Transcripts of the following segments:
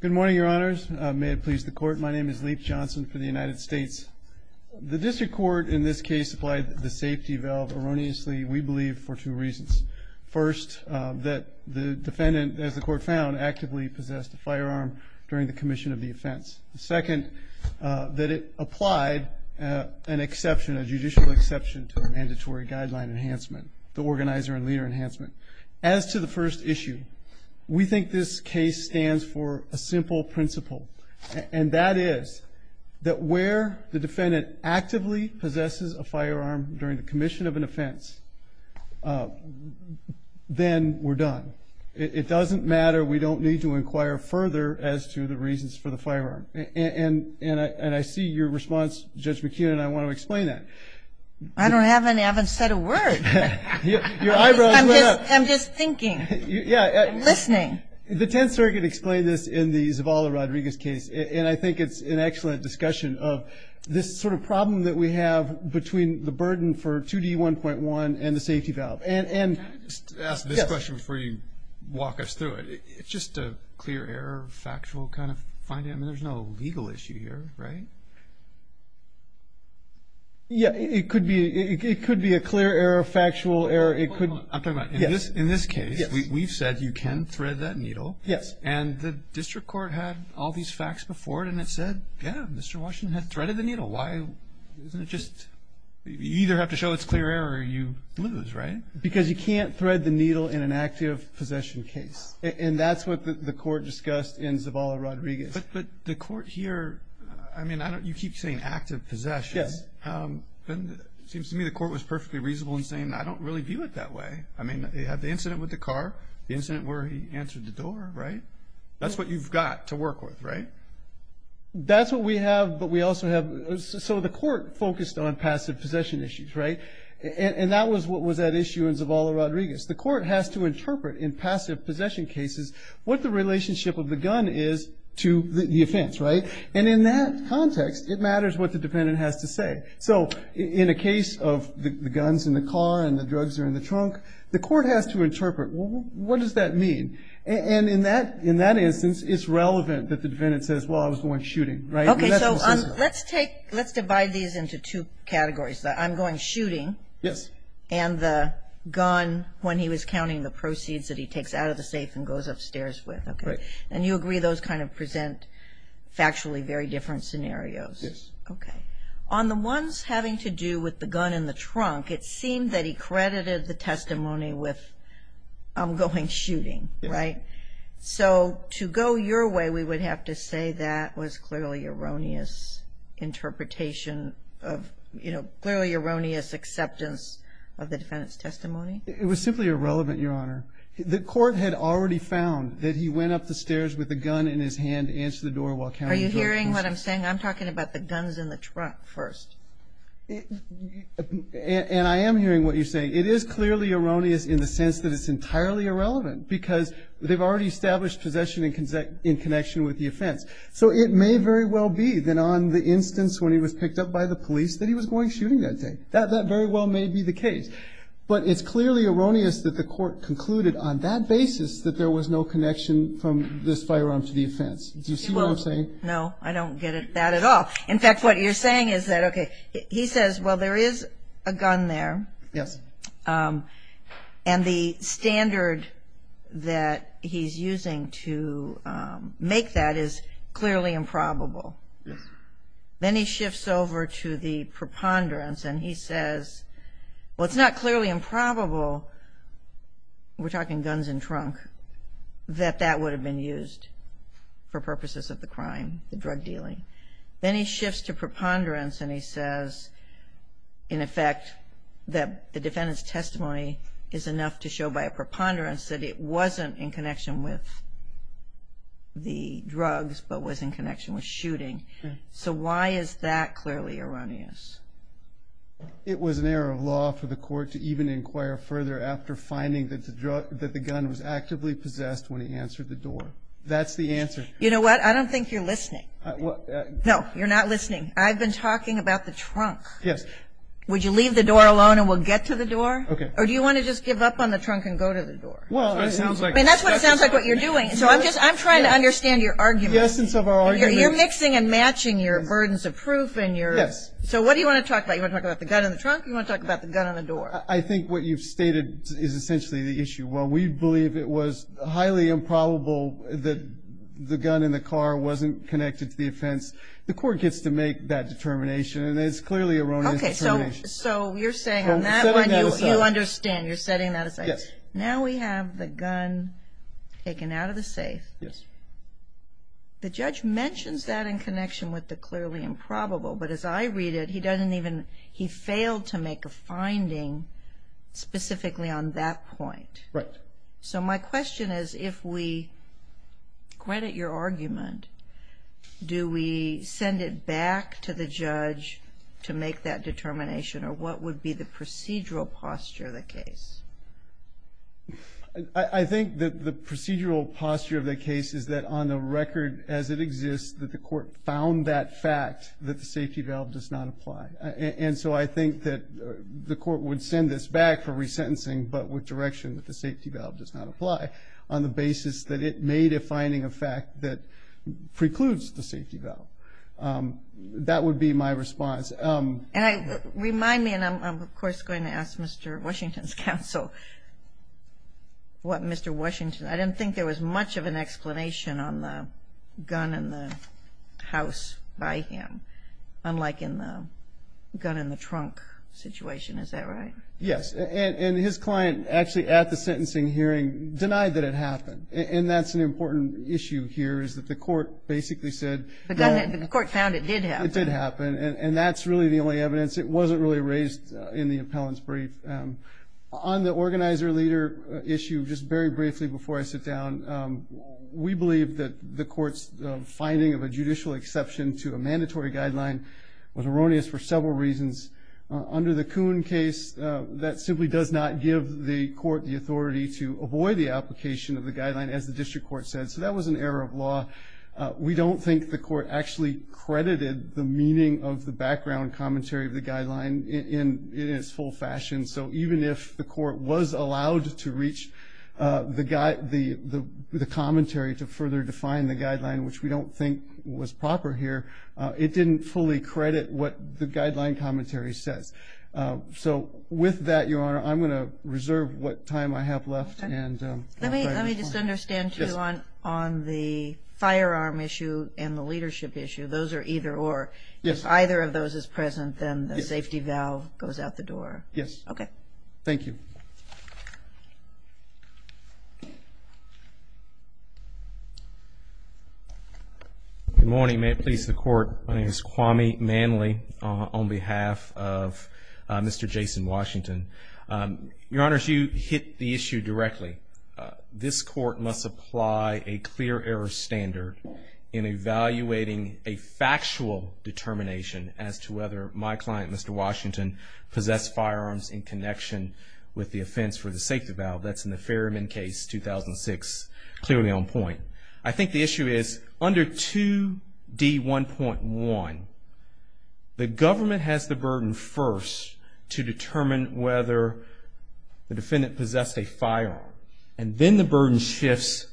Good morning, your honors. May it please the court, my name is Leif Johnson for the United States. The district court in this case applied the safety valve erroneously, we believe for two reasons. First, that the defendant, as the court found, actively possessed a firearm during the commission of the offense. Second, that it applied an exception, a judicial exception, to a mandatory guideline enhancement, the organizer and leader enhancement. As to the first issue, we think this case stands for a simple principle, and that is that where the defendant actively possesses a firearm during the commission of an offense, then we're done. It doesn't matter, we don't need to inquire further as to the reasons for the firearm. And I see your response, Judge McKeon, and I want to explain that. I don't have any, I haven't said a word. I'm just thinking, listening. The Tenth Circuit explained this in the Zavala-Rodriguez case, and I think it's an excellent discussion of this sort of problem that we have between the burden for 2D1.1 and the safety valve. Can I just ask this question before you walk us through it? It's just a clear error, factual kind of finding, I mean there's no legal issue here, right? Yeah, it could be, it could be a clear error, factual error. I'm talking about, in this case, we've said you can thread that needle. Yes. And the district court had all these facts before it, and it said, yeah, Mr. Washington had threaded the needle. Why, isn't it just, you either have to show it's clear error or you lose, right? Because you can't thread the needle in an active possession case, and that's what the court discussed in Zavala-Rodriguez. But the court here, I mean, I don't, you keep saying active possessions. Yes. Seems to me the court was perfectly reasonable in saying, I don't really view it that way. I mean, they had the incident with the car, the incident where he answered the door, right? That's what you've got to work with, right? That's what we have, but we also have, so the court focused on passive possession issues, right? And that was what was at issue in Zavala-Rodriguez. The court has to interpret, in passive possession cases, what the relationship of the gun is to the offense, right? And in that context, it matters what the defendant has to say. So in a case of the gun's in the car and the drugs are in the trunk, the court has to interpret, well, what does that mean? And in that instance, it's relevant that the defendant says, well, I was going shooting, right? Okay, so let's take, let's divide these into two categories. I'm going shooting. Yes. And the gun, when he was counting the proceeds that he takes out of the safe and factually very different scenarios. Yes. Okay. On the ones having to do with the gun in the trunk, it seemed that he credited the testimony with, I'm going shooting, right? So to go your way, we would have to say that was clearly erroneous interpretation of, you know, clearly erroneous acceptance of the defendant's testimony. It was simply irrelevant, Your Honor. The court had already found that he went up the stairs with a gun in his hand to answer the door while counting the drugs. Are you hearing what I'm saying? I'm talking about the guns in the trunk first. And I am hearing what you're saying. It is clearly erroneous in the sense that it's entirely irrelevant because they've already established possession in connection with the offense. So it may very well be that on the instance when he was picked up by the police that he was going shooting that day. That very well may be the case. But it's clearly erroneous that the court concluded on that basis that there was no connection from this firearm to the offense. Do you see what I'm saying? No. I don't get that at all. In fact, what you're saying is that, okay, he says, well, there is a gun there. Yes. And the standard that he's using to make that is clearly improbable. Yes. Then he shifts over to the preponderance and he says, well, it's not clearly improbable, we're talking guns in trunk, that that would have been used for purposes of the crime, the drug dealing. Then he shifts to preponderance and he says, in effect, that the defendant's testimony is enough to show by a preponderance that it wasn't in connection with the drugs but was in connection with shooting. So why is that clearly erroneous? It was an error of law for the court to even inquire further after finding that the gun was actively possessed when he answered the door. That's the answer. You know what? I don't think you're listening. No, you're not listening. I've been talking about the trunk. Yes. Would you leave the door alone and we'll get to the door? Okay. Or do you want to just give up on the trunk and go to the door? Well, that sounds like it. And that's what it sounds like what you're doing. So I'm just, I'm trying to understand your argument. The essence of our argument. You're mixing and matching your burdens of proof and your. Yes. So what do you want to talk about? You want to talk about the gun in the trunk? You want to talk about the gun on the door? I think what you've stated is essentially the issue. While we believe it was highly improbable that the gun in the car wasn't connected to the offense, the court gets to make that determination. And it's clearly erroneous determination. So you're saying on that one you understand. You're setting that aside. Yes. Now we have the gun taken out of the safe. Yes. The judge mentions that in connection with the clearly improbable. But as I stated, he doesn't even, he failed to make a finding specifically on that point. Right. So my question is if we credit your argument, do we send it back to the judge to make that determination? Or what would be the procedural posture of the case? I think that the procedural posture of the case is that on the record as it does not apply. And so I think that the court would send this back for resentencing, but with direction that the safety valve does not apply on the basis that it made a finding of fact that precludes the safety valve. That would be my response. And remind me, and I'm of course going to ask Mr. Washington's counsel, what Mr. Washington, I didn't think there was much of an explanation on the house by him, unlike in the gun in the trunk situation. Is that right? Yes. And his client actually at the sentencing hearing denied that it happened. And that's an important issue here is that the court basically said that the court found it did happen. And that's really the only evidence. It wasn't really raised in the appellant's brief. On the organizer leader issue, just very briefly before I sit down, we believe that the court's finding of a judicial exception to a mandatory guideline was erroneous for several reasons. Under the Kuhn case, that simply does not give the court the authority to avoid the application of the guideline as the district court said. So that was an error of law. We don't think the court actually credited the meaning of the background commentary of the guideline in its full meaning. The commentary to further define the guideline, which we don't think was proper here, it didn't fully credit what the guideline commentary says. So with that, Your Honor, I'm going to reserve what time I have left. Let me just understand too, on the firearm issue and the leadership issue, those are either or. If either of those is present, then the safety valve goes out the door. Yes. Okay. Thank you. Good morning. May it please the court. My name is Kwame Manley on behalf of Mr. Jason Washington. Your Honors, you hit the issue directly. This court must apply a clear error standard in evaluating a factual determination as to whether my client, Mr. Washington, possessed firearms in connection with the offense for the safety valve. That's in the Ferryman case, 2006, clearly on point. I think the issue is under 2D1.1, the government has the burden first to determine whether the defendant possessed a firearm. And then the burden shifts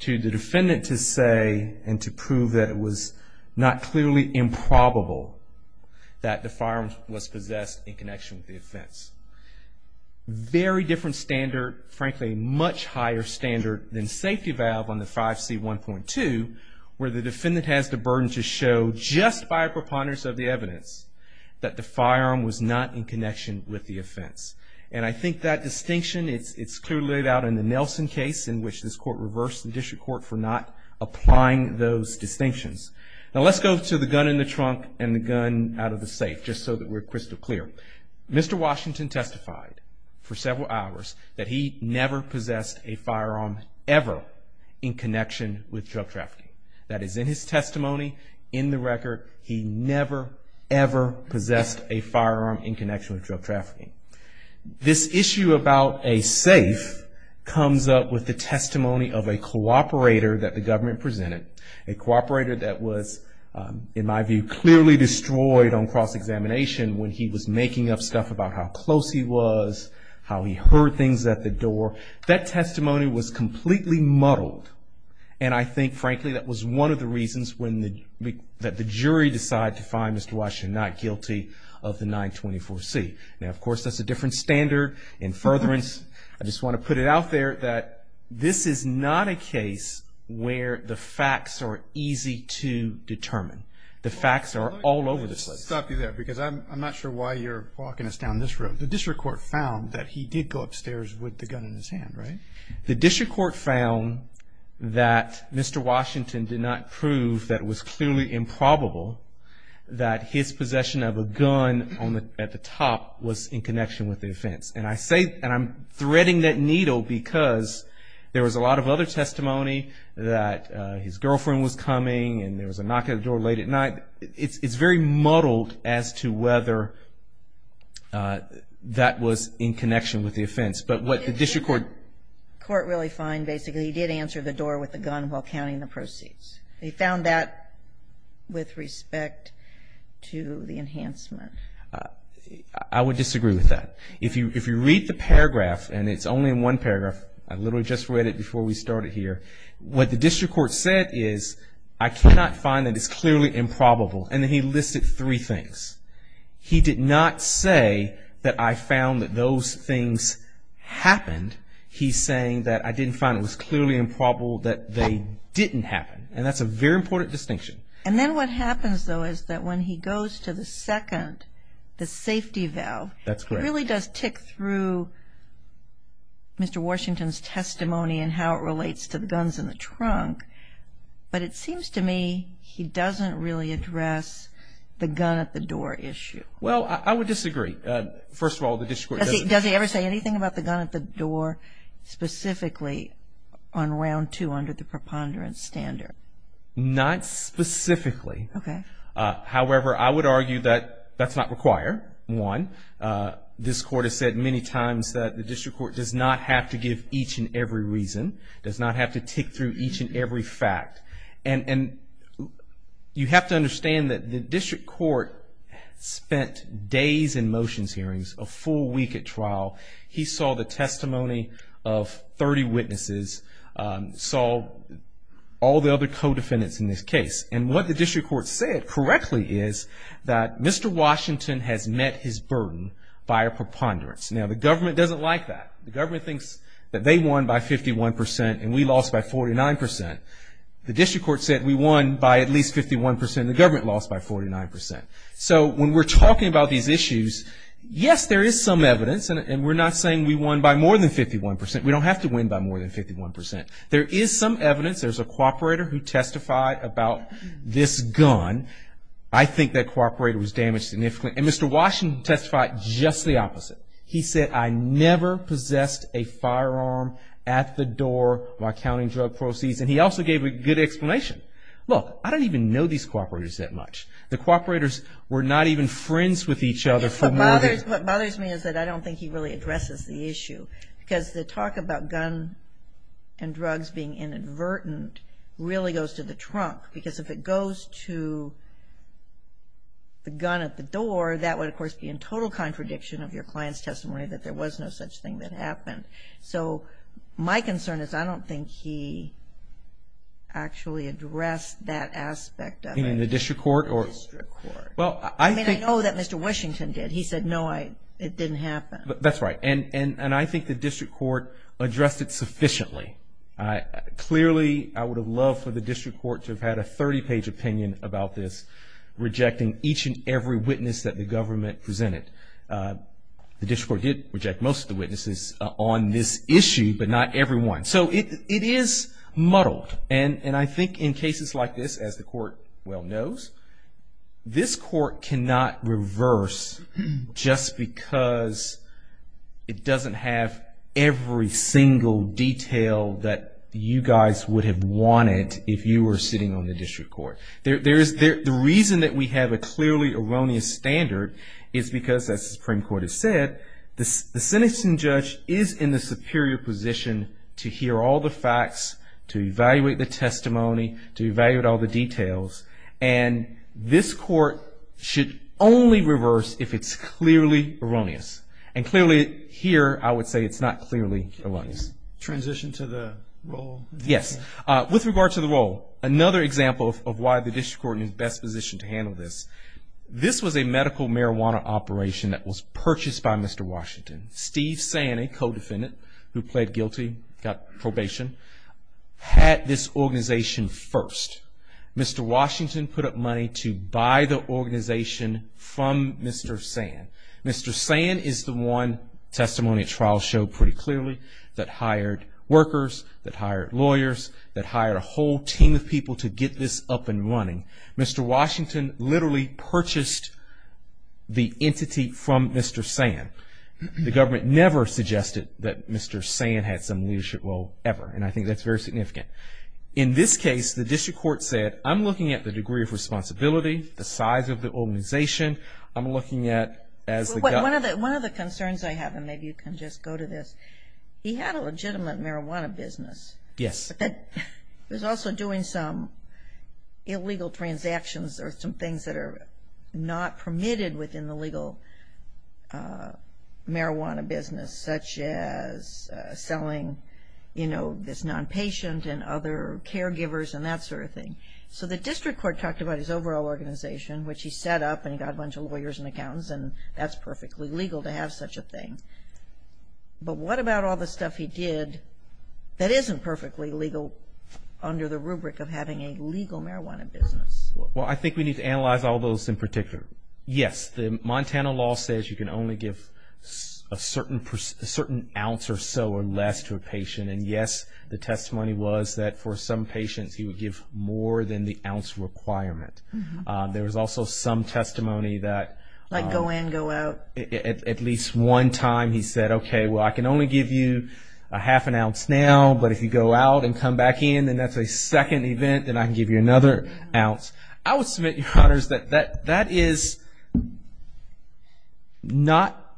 to the defendant to say and to prove that it was not clearly improbable that the firearm was possessed in connection with the offense. Very different standard, frankly, much higher standard than safety valve on the 5C1.2 where the defendant has the burden to show just by a preponderance of the evidence that the firearm was not in connection with the offense. And I think that distinction, it's clearly laid out in the Nelson case in which this court reversed the district court for not applying those distinctions. Now let's go to the gun in the trunk and the gun out of the safe just so that we're crystal clear. Mr. Washington testified for several hours that he never possessed a firearm ever in connection with drug trafficking. That is in his testimony, in the record, he never ever possessed a firearm in connection with drug trafficking. This issue about a safe comes up with the testimony of a cooperator that was, in my view, clearly destroyed on cross-examination when he was making up stuff about how close he was, how he heard things at the door. That testimony was completely muddled. And I think, frankly, that was one of the reasons that the jury decided to find Mr. Washington not guilty of the 924C. Now, of course, that's a different standard and furtherance. I just want to put it out there that this is not a case where the facts are easy to determine. The facts are all over the place. Let me just stop you there because I'm not sure why you're walking us down this road. The district court found that he did go upstairs with the gun in his hand, right? The district court found that Mr. Washington did not prove that it was clearly improbable that his possession of a gun at the top was in connection with the offense. And I think that's vital because there was a lot of other testimony that his girlfriend was coming and there was a knock at the door late at night. It's very muddled as to whether that was in connection with the offense. But what the district court... But did the court really find, basically, he did answer the door with the gun while counting the proceeds? They found that with respect to the enhancement. I would disagree with that. If you read the paragraph, and it's only in one paragraph, I literally just read it before we started here. What the district court said is, I cannot find that it's clearly improbable. And then he listed three things. He did not say that I found that those things happened. He's saying that I didn't find it was clearly improbable that they didn't happen. And that's a very important distinction. And then what happens, though, is that when he goes to the second, the safety valve, it really does tick through Mr. Washington's testimony and how it relates to the guns in the trunk. But it seems to me he doesn't really address the gun at the door issue. Well, I would disagree. First of all, the district court doesn't... Does he ever say anything about the gun at the door specifically on round two under the preponderance standard? Not specifically. Okay. However, I would argue that that's not required, one. This court has said many times that the district court does not have to give each and every reason, does not have to tick through each and every fact. And you have to understand that the district court spent days in motions hearings, a full week at trial. He saw the testimony of 30 witnesses, saw all the other co-defendants in this case. And what the district court said correctly is that Mr. Washington has met his burden by a preponderance. Now, the government doesn't like that. The government thinks that they won by 51 percent and we lost by 49 percent. The district court said we won by at least 51 percent and the government lost by 49 percent. So when we're talking about these issues, yes, there is some evidence. And we're not saying we won by more than 51 percent. We don't have to win by more than 51 percent. There is some evidence. There's a cooperator who testified about this gun. I think that cooperator was damaged significantly. And Mr. Washington testified just the opposite. He said, I never possessed a firearm at the door while counting drug proceeds. And he also gave a good explanation. Look, I don't even know these cooperators that much. The cooperators were not even friends with each other for more than... What bothers me is that I don't think he really addresses the issue. Because the talk about gun and drugs being inadvertent really goes to the trunk. Because if it goes to the gun at the door, that would, of course, be in total contradiction of your client's testimony that there was no such thing that happened. So my concern is I don't think he actually addressed that aspect of it. In the district court or... In the district court. I mean, I know that Mr. Washington did. He said, no, it didn't happen. That's right. And I think the district court addressed it sufficiently. Clearly, I would have loved for the district court to have had a 30-page opinion about this, rejecting each and every witness that the government presented. The district court did reject most of the witnesses on this issue, but not everyone. So it is muddled. And I think in cases like this, as the Supreme Court has said, this court cannot reverse just because it doesn't have every single detail that you guys would have wanted if you were sitting on the district court. The reason that we have a clearly erroneous standard is because, as the Supreme Court has said, the sentencing judge is in the superior position to hear all the facts, to evaluate the testimony, to evaluate all the details. And this court should only reverse if it's clearly erroneous. And clearly, here, I would say it's not clearly erroneous. Transition to the role? Yes. With regard to the role, another example of why the district court is in the best position to handle this, this was a medical marijuana operation that was purchased by Mr. Washington. Steve Sani, co-defendant, who pled guilty, got probation, had this organization first. Mr. Washington put up money to buy the organization from Mr. San. Mr. San is the one, testimony at trial showed pretty clearly, that hired workers, that hired lawyers, that hired a whole team of people to get this up and running. Mr. Washington literally purchased the organization. He never suggested that Mr. San had some leadership role, ever. And I think that's very significant. In this case, the district court said, I'm looking at the degree of responsibility, the size of the organization. I'm looking at, as the guy... One of the concerns I have, and maybe you can just go to this, he had a legitimate marijuana business. Yes. He was also doing some illegal transactions or some things that are not permitted within the legal marijuana business, such as selling, you know, this non-patient and other caregivers and that sort of thing. So the district court talked about his overall organization, which he set up, and he got a bunch of lawyers and accountants, and that's perfectly legal to have such a thing. But what about all the stuff he did that isn't perfectly legal under the rubric of having a legal marijuana business? Well, I think we need to analyze all those in particular. Yes, the Montana law says you can only give a certain ounce or so or less to a patient. And yes, the testimony was that for some patients, he would give more than the ounce requirement. There was also some testimony that... Like go in, go out. At least one time, he said, okay, well, I can only give you a half an ounce now, but if you go out and come back in, and that's a second event, then I can give you another ounce. I would submit, Your Honors, that that is not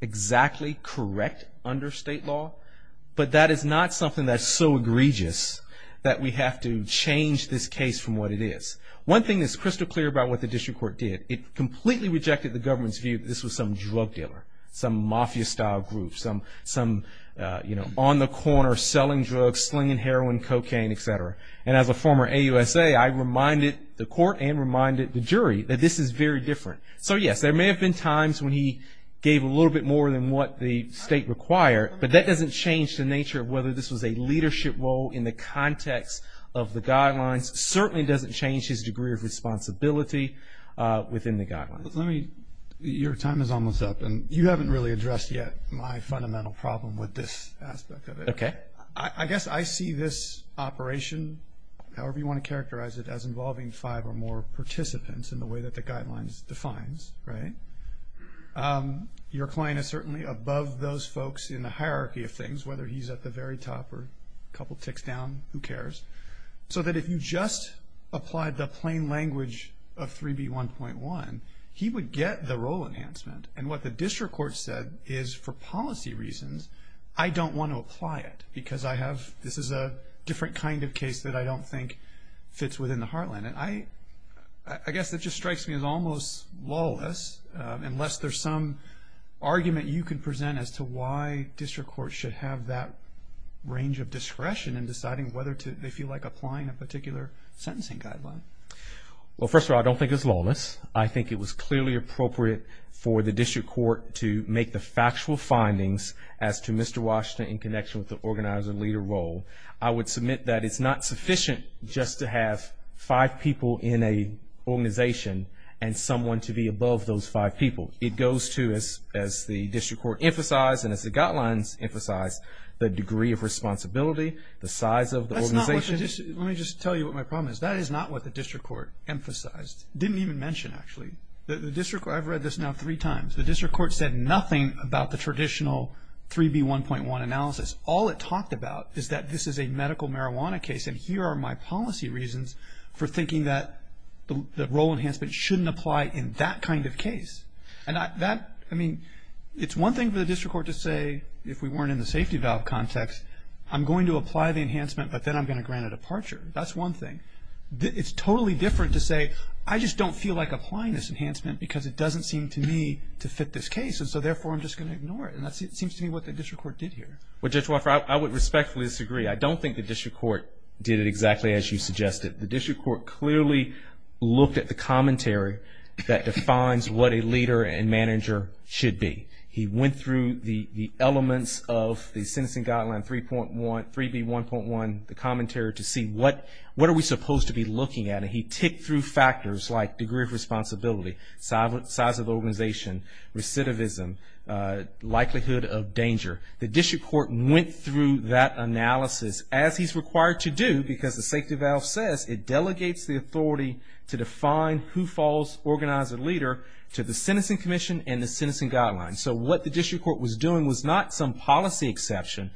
exactly correct under state law, but that is not something that's so egregious that we have to change this case from what it is. One thing that's crystal clear about what the district court did, it completely rejected the government's view that this was some drug dealer, some mafia-style group, some, you know, on the corner, selling drugs, slinging heroin, cocaine, etc. And as a former AUSA, I reminded the court and reminded the jury that this is very different. So yes, there may have been times when he gave a little bit more than what the state required, but that doesn't change the nature of whether this was a leadership role in the context of the guidelines. Certainly doesn't change his degree of responsibility within the guidelines. Let me... Your time is almost up, and you haven't really addressed yet my question. I guess I see this operation, however you want to characterize it, as involving five or more participants in the way that the guidelines defines, right? Your client is certainly above those folks in the hierarchy of things, whether he's at the very top or a couple ticks down, who cares? So that if you just applied the plain language of 3B1.1, he would get the role enhancement. And what the district court said is, for policy reasons, I don't want to apply it because I have... This is a different kind of case that I don't think fits within the heartland. And I guess that just strikes me as almost lawless, unless there's some argument you can present as to why district court should have that range of discretion in deciding whether they feel like applying a particular sentencing guideline. Well, first of all, I don't think it's lawless. I think it was clearly appropriate for the district court to make the factual findings as to Mr. Washington in connection with the organizer leader role. I would submit that it's not sufficient just to have five people in a organization and someone to be above those five people. It goes to, as the district court emphasized and as the guidelines emphasize, the degree of responsibility, the size of the organization. Let me just tell you what my problem is. That is not what the district court emphasized. Didn't even mention, actually. I've read this now three times. The district court said nothing about the traditional 3B1.1 analysis. All it talked about is that this is a medical marijuana case and here are my policy reasons for thinking that the role enhancement shouldn't apply in that kind of case. And that, I mean, it's one thing for the district court to say, if we weren't in the safety valve context, I'm going to apply the enhancement but then I'm going to grant a departure. That's one thing. It's totally different to say, I just don't feel like applying this enhancement because it doesn't seem to me to fit this case and so therefore I'm just going to ignore it. And that seems to me what the district court did here. Well, Judge Wofford, I would respectfully disagree. I don't think the district court did it exactly as you suggested. The district court clearly looked at the commentary that defines what a leader and manager should be. He went through the elements of the Sentencing Guideline 3B1.1, the commentary, to see what are we supposed to be looking at. And he ticked through factors like degree of responsibility, size of organization, recidivism, likelihood of danger. The district court went through that analysis as he's required to do because the safety valve says it delegates the authority to define who falls, organize a leader, to the Sentencing Commission and the Sentencing Guideline. So what the district court was doing was not some policy exception.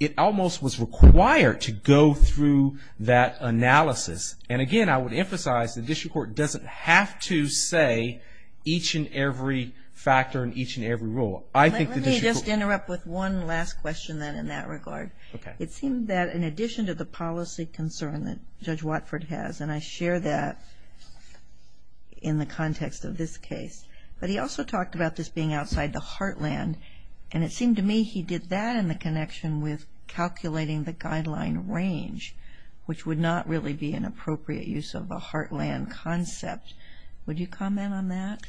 It almost was required to go through that analysis. And again, I would emphasize the district court doesn't have to say each and every factor and each and every rule. I think the district court... Let me just interrupt with one last question then in that regard. It seemed that in addition to the policy concern that Judge Wofford has, and I share that in the context of this case, but he also talked about this being outside the heartland. And it seemed to me he did that in the connection with calculating the guideline range, which would not really be an appropriate use of a heartland concept. Would you comment on that?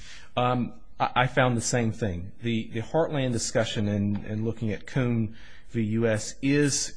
I found the same thing. The heartland discussion in looking at Coon v. U.S. is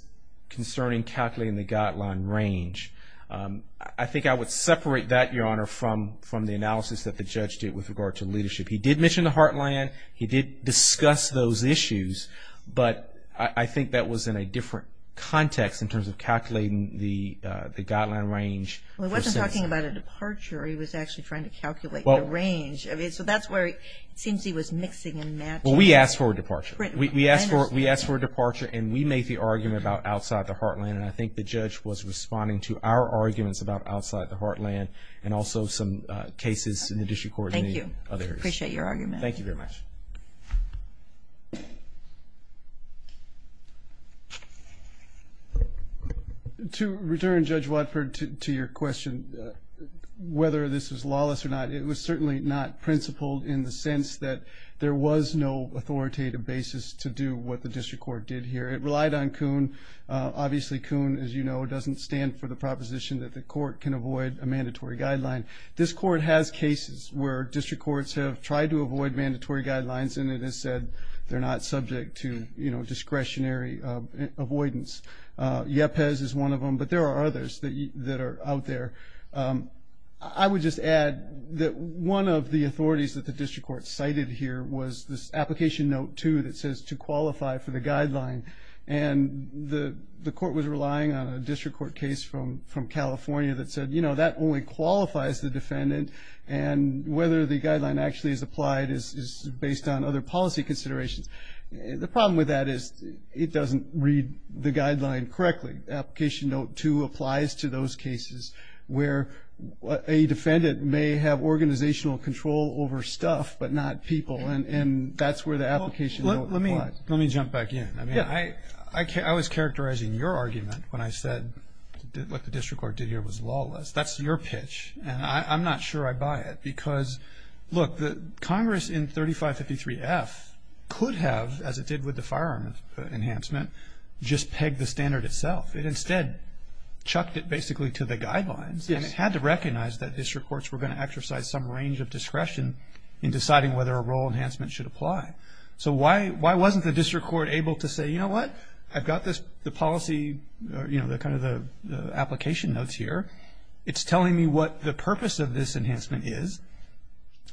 concerning calculating the guideline range. I think I would separate that, Your Honor, from the analysis that the judge did with regard to leadership. He did mention the heartland. He did discuss those issues. But I think that was in a different context in terms of calculating the guideline range. Well, he wasn't talking about a departure. He was actually trying to calculate the range. I mean, so that's where it seems he was mixing and matching. Well, we asked for a departure. We asked for a departure, and we made the argument about outside the heartland. And I think the judge was responding to our arguments about outside the heartland and also some cases in the district court. Thank you. Appreciate your argument. Thank you very much. To return, Judge Watford, to your question, whether this is lawless or not, it was certainly not principled in the sense that there was no authoritative basis to do what the district court did here. It relied on Coon. Obviously, Coon, as you know, doesn't stand for the proposition that the court can avoid a district court. District courts have tried to avoid mandatory guidelines, and it has said they're not subject to discretionary avoidance. YEPES is one of them, but there are others that are out there. I would just add that one of the authorities that the district court cited here was this application note, too, that says to qualify for the guideline. And the court was relying on a district court case from California that said, you know, that only qualifies the defendant. And whether the guideline actually is applied is based on other policy considerations. The problem with that is it doesn't read the guideline correctly. Application note, too, applies to those cases where a defendant may have organizational control over stuff but not people. And that's where the application note applies. Let me jump back in. I was characterizing your argument when I said what the district court did here was lawless. That's your pitch, and I'm not sure I buy it. Because, look, the Congress in 3553F could have, as it did with the firearm enhancement, just pegged the standard itself. It instead chucked it basically to the guidelines, and it had to recognize that district courts were going to exercise some range of discretion in deciding whether a role enhancement should apply. So why wasn't the district court able to say, you know what? I've got the policy, you know, kind of the purpose of this enhancement is.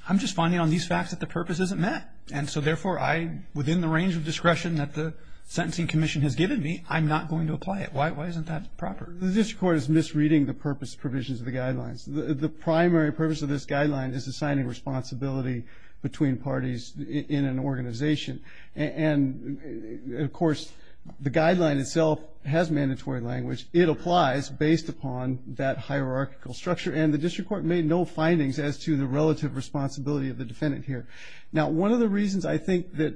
I'm just finding on these facts that the purpose isn't met. And so, therefore, I, within the range of discretion that the sentencing commission has given me, I'm not going to apply it. Why isn't that proper? The district court is misreading the purpose provisions of the guidelines. The primary purpose of this guideline is assigning responsibility between parties in an organization. And, of course, the guideline itself has mandatory language. It applies based upon that hierarchical structure. And the district court made no findings as to the relative responsibility of the defendant here. Now, one of the reasons I think that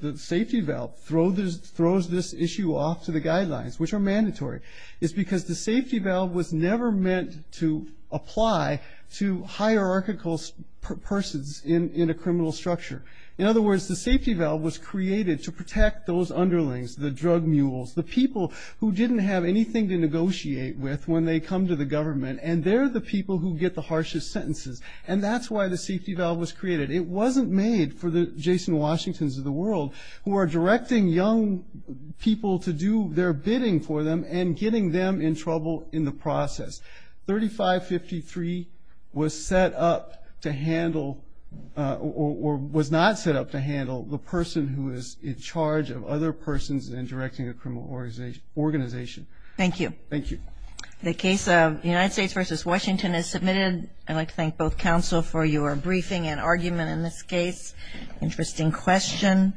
the safety valve throws this issue off to the guidelines, which are mandatory, is because the safety valve was never meant to apply to hierarchical persons in a criminal structure. In other words, the safety valve was created to protect those underlings, the drug mules, the people who didn't have anything to negotiate with when they come to the government. And they're the people who get the harshest sentences. And that's why the safety valve was created. It wasn't made for the Jason Washingtons of the world, who are directing young people to do their bidding for them and getting them in trouble in the process. 3553 was set up to handle, or was not set up to handle, the person who is in charge of other persons in directing a criminal organization. Thank you. Thank you. The case of United States versus Washington is submitted. I'd like to thank both counsel for your briefing and argument in this case. Interesting question.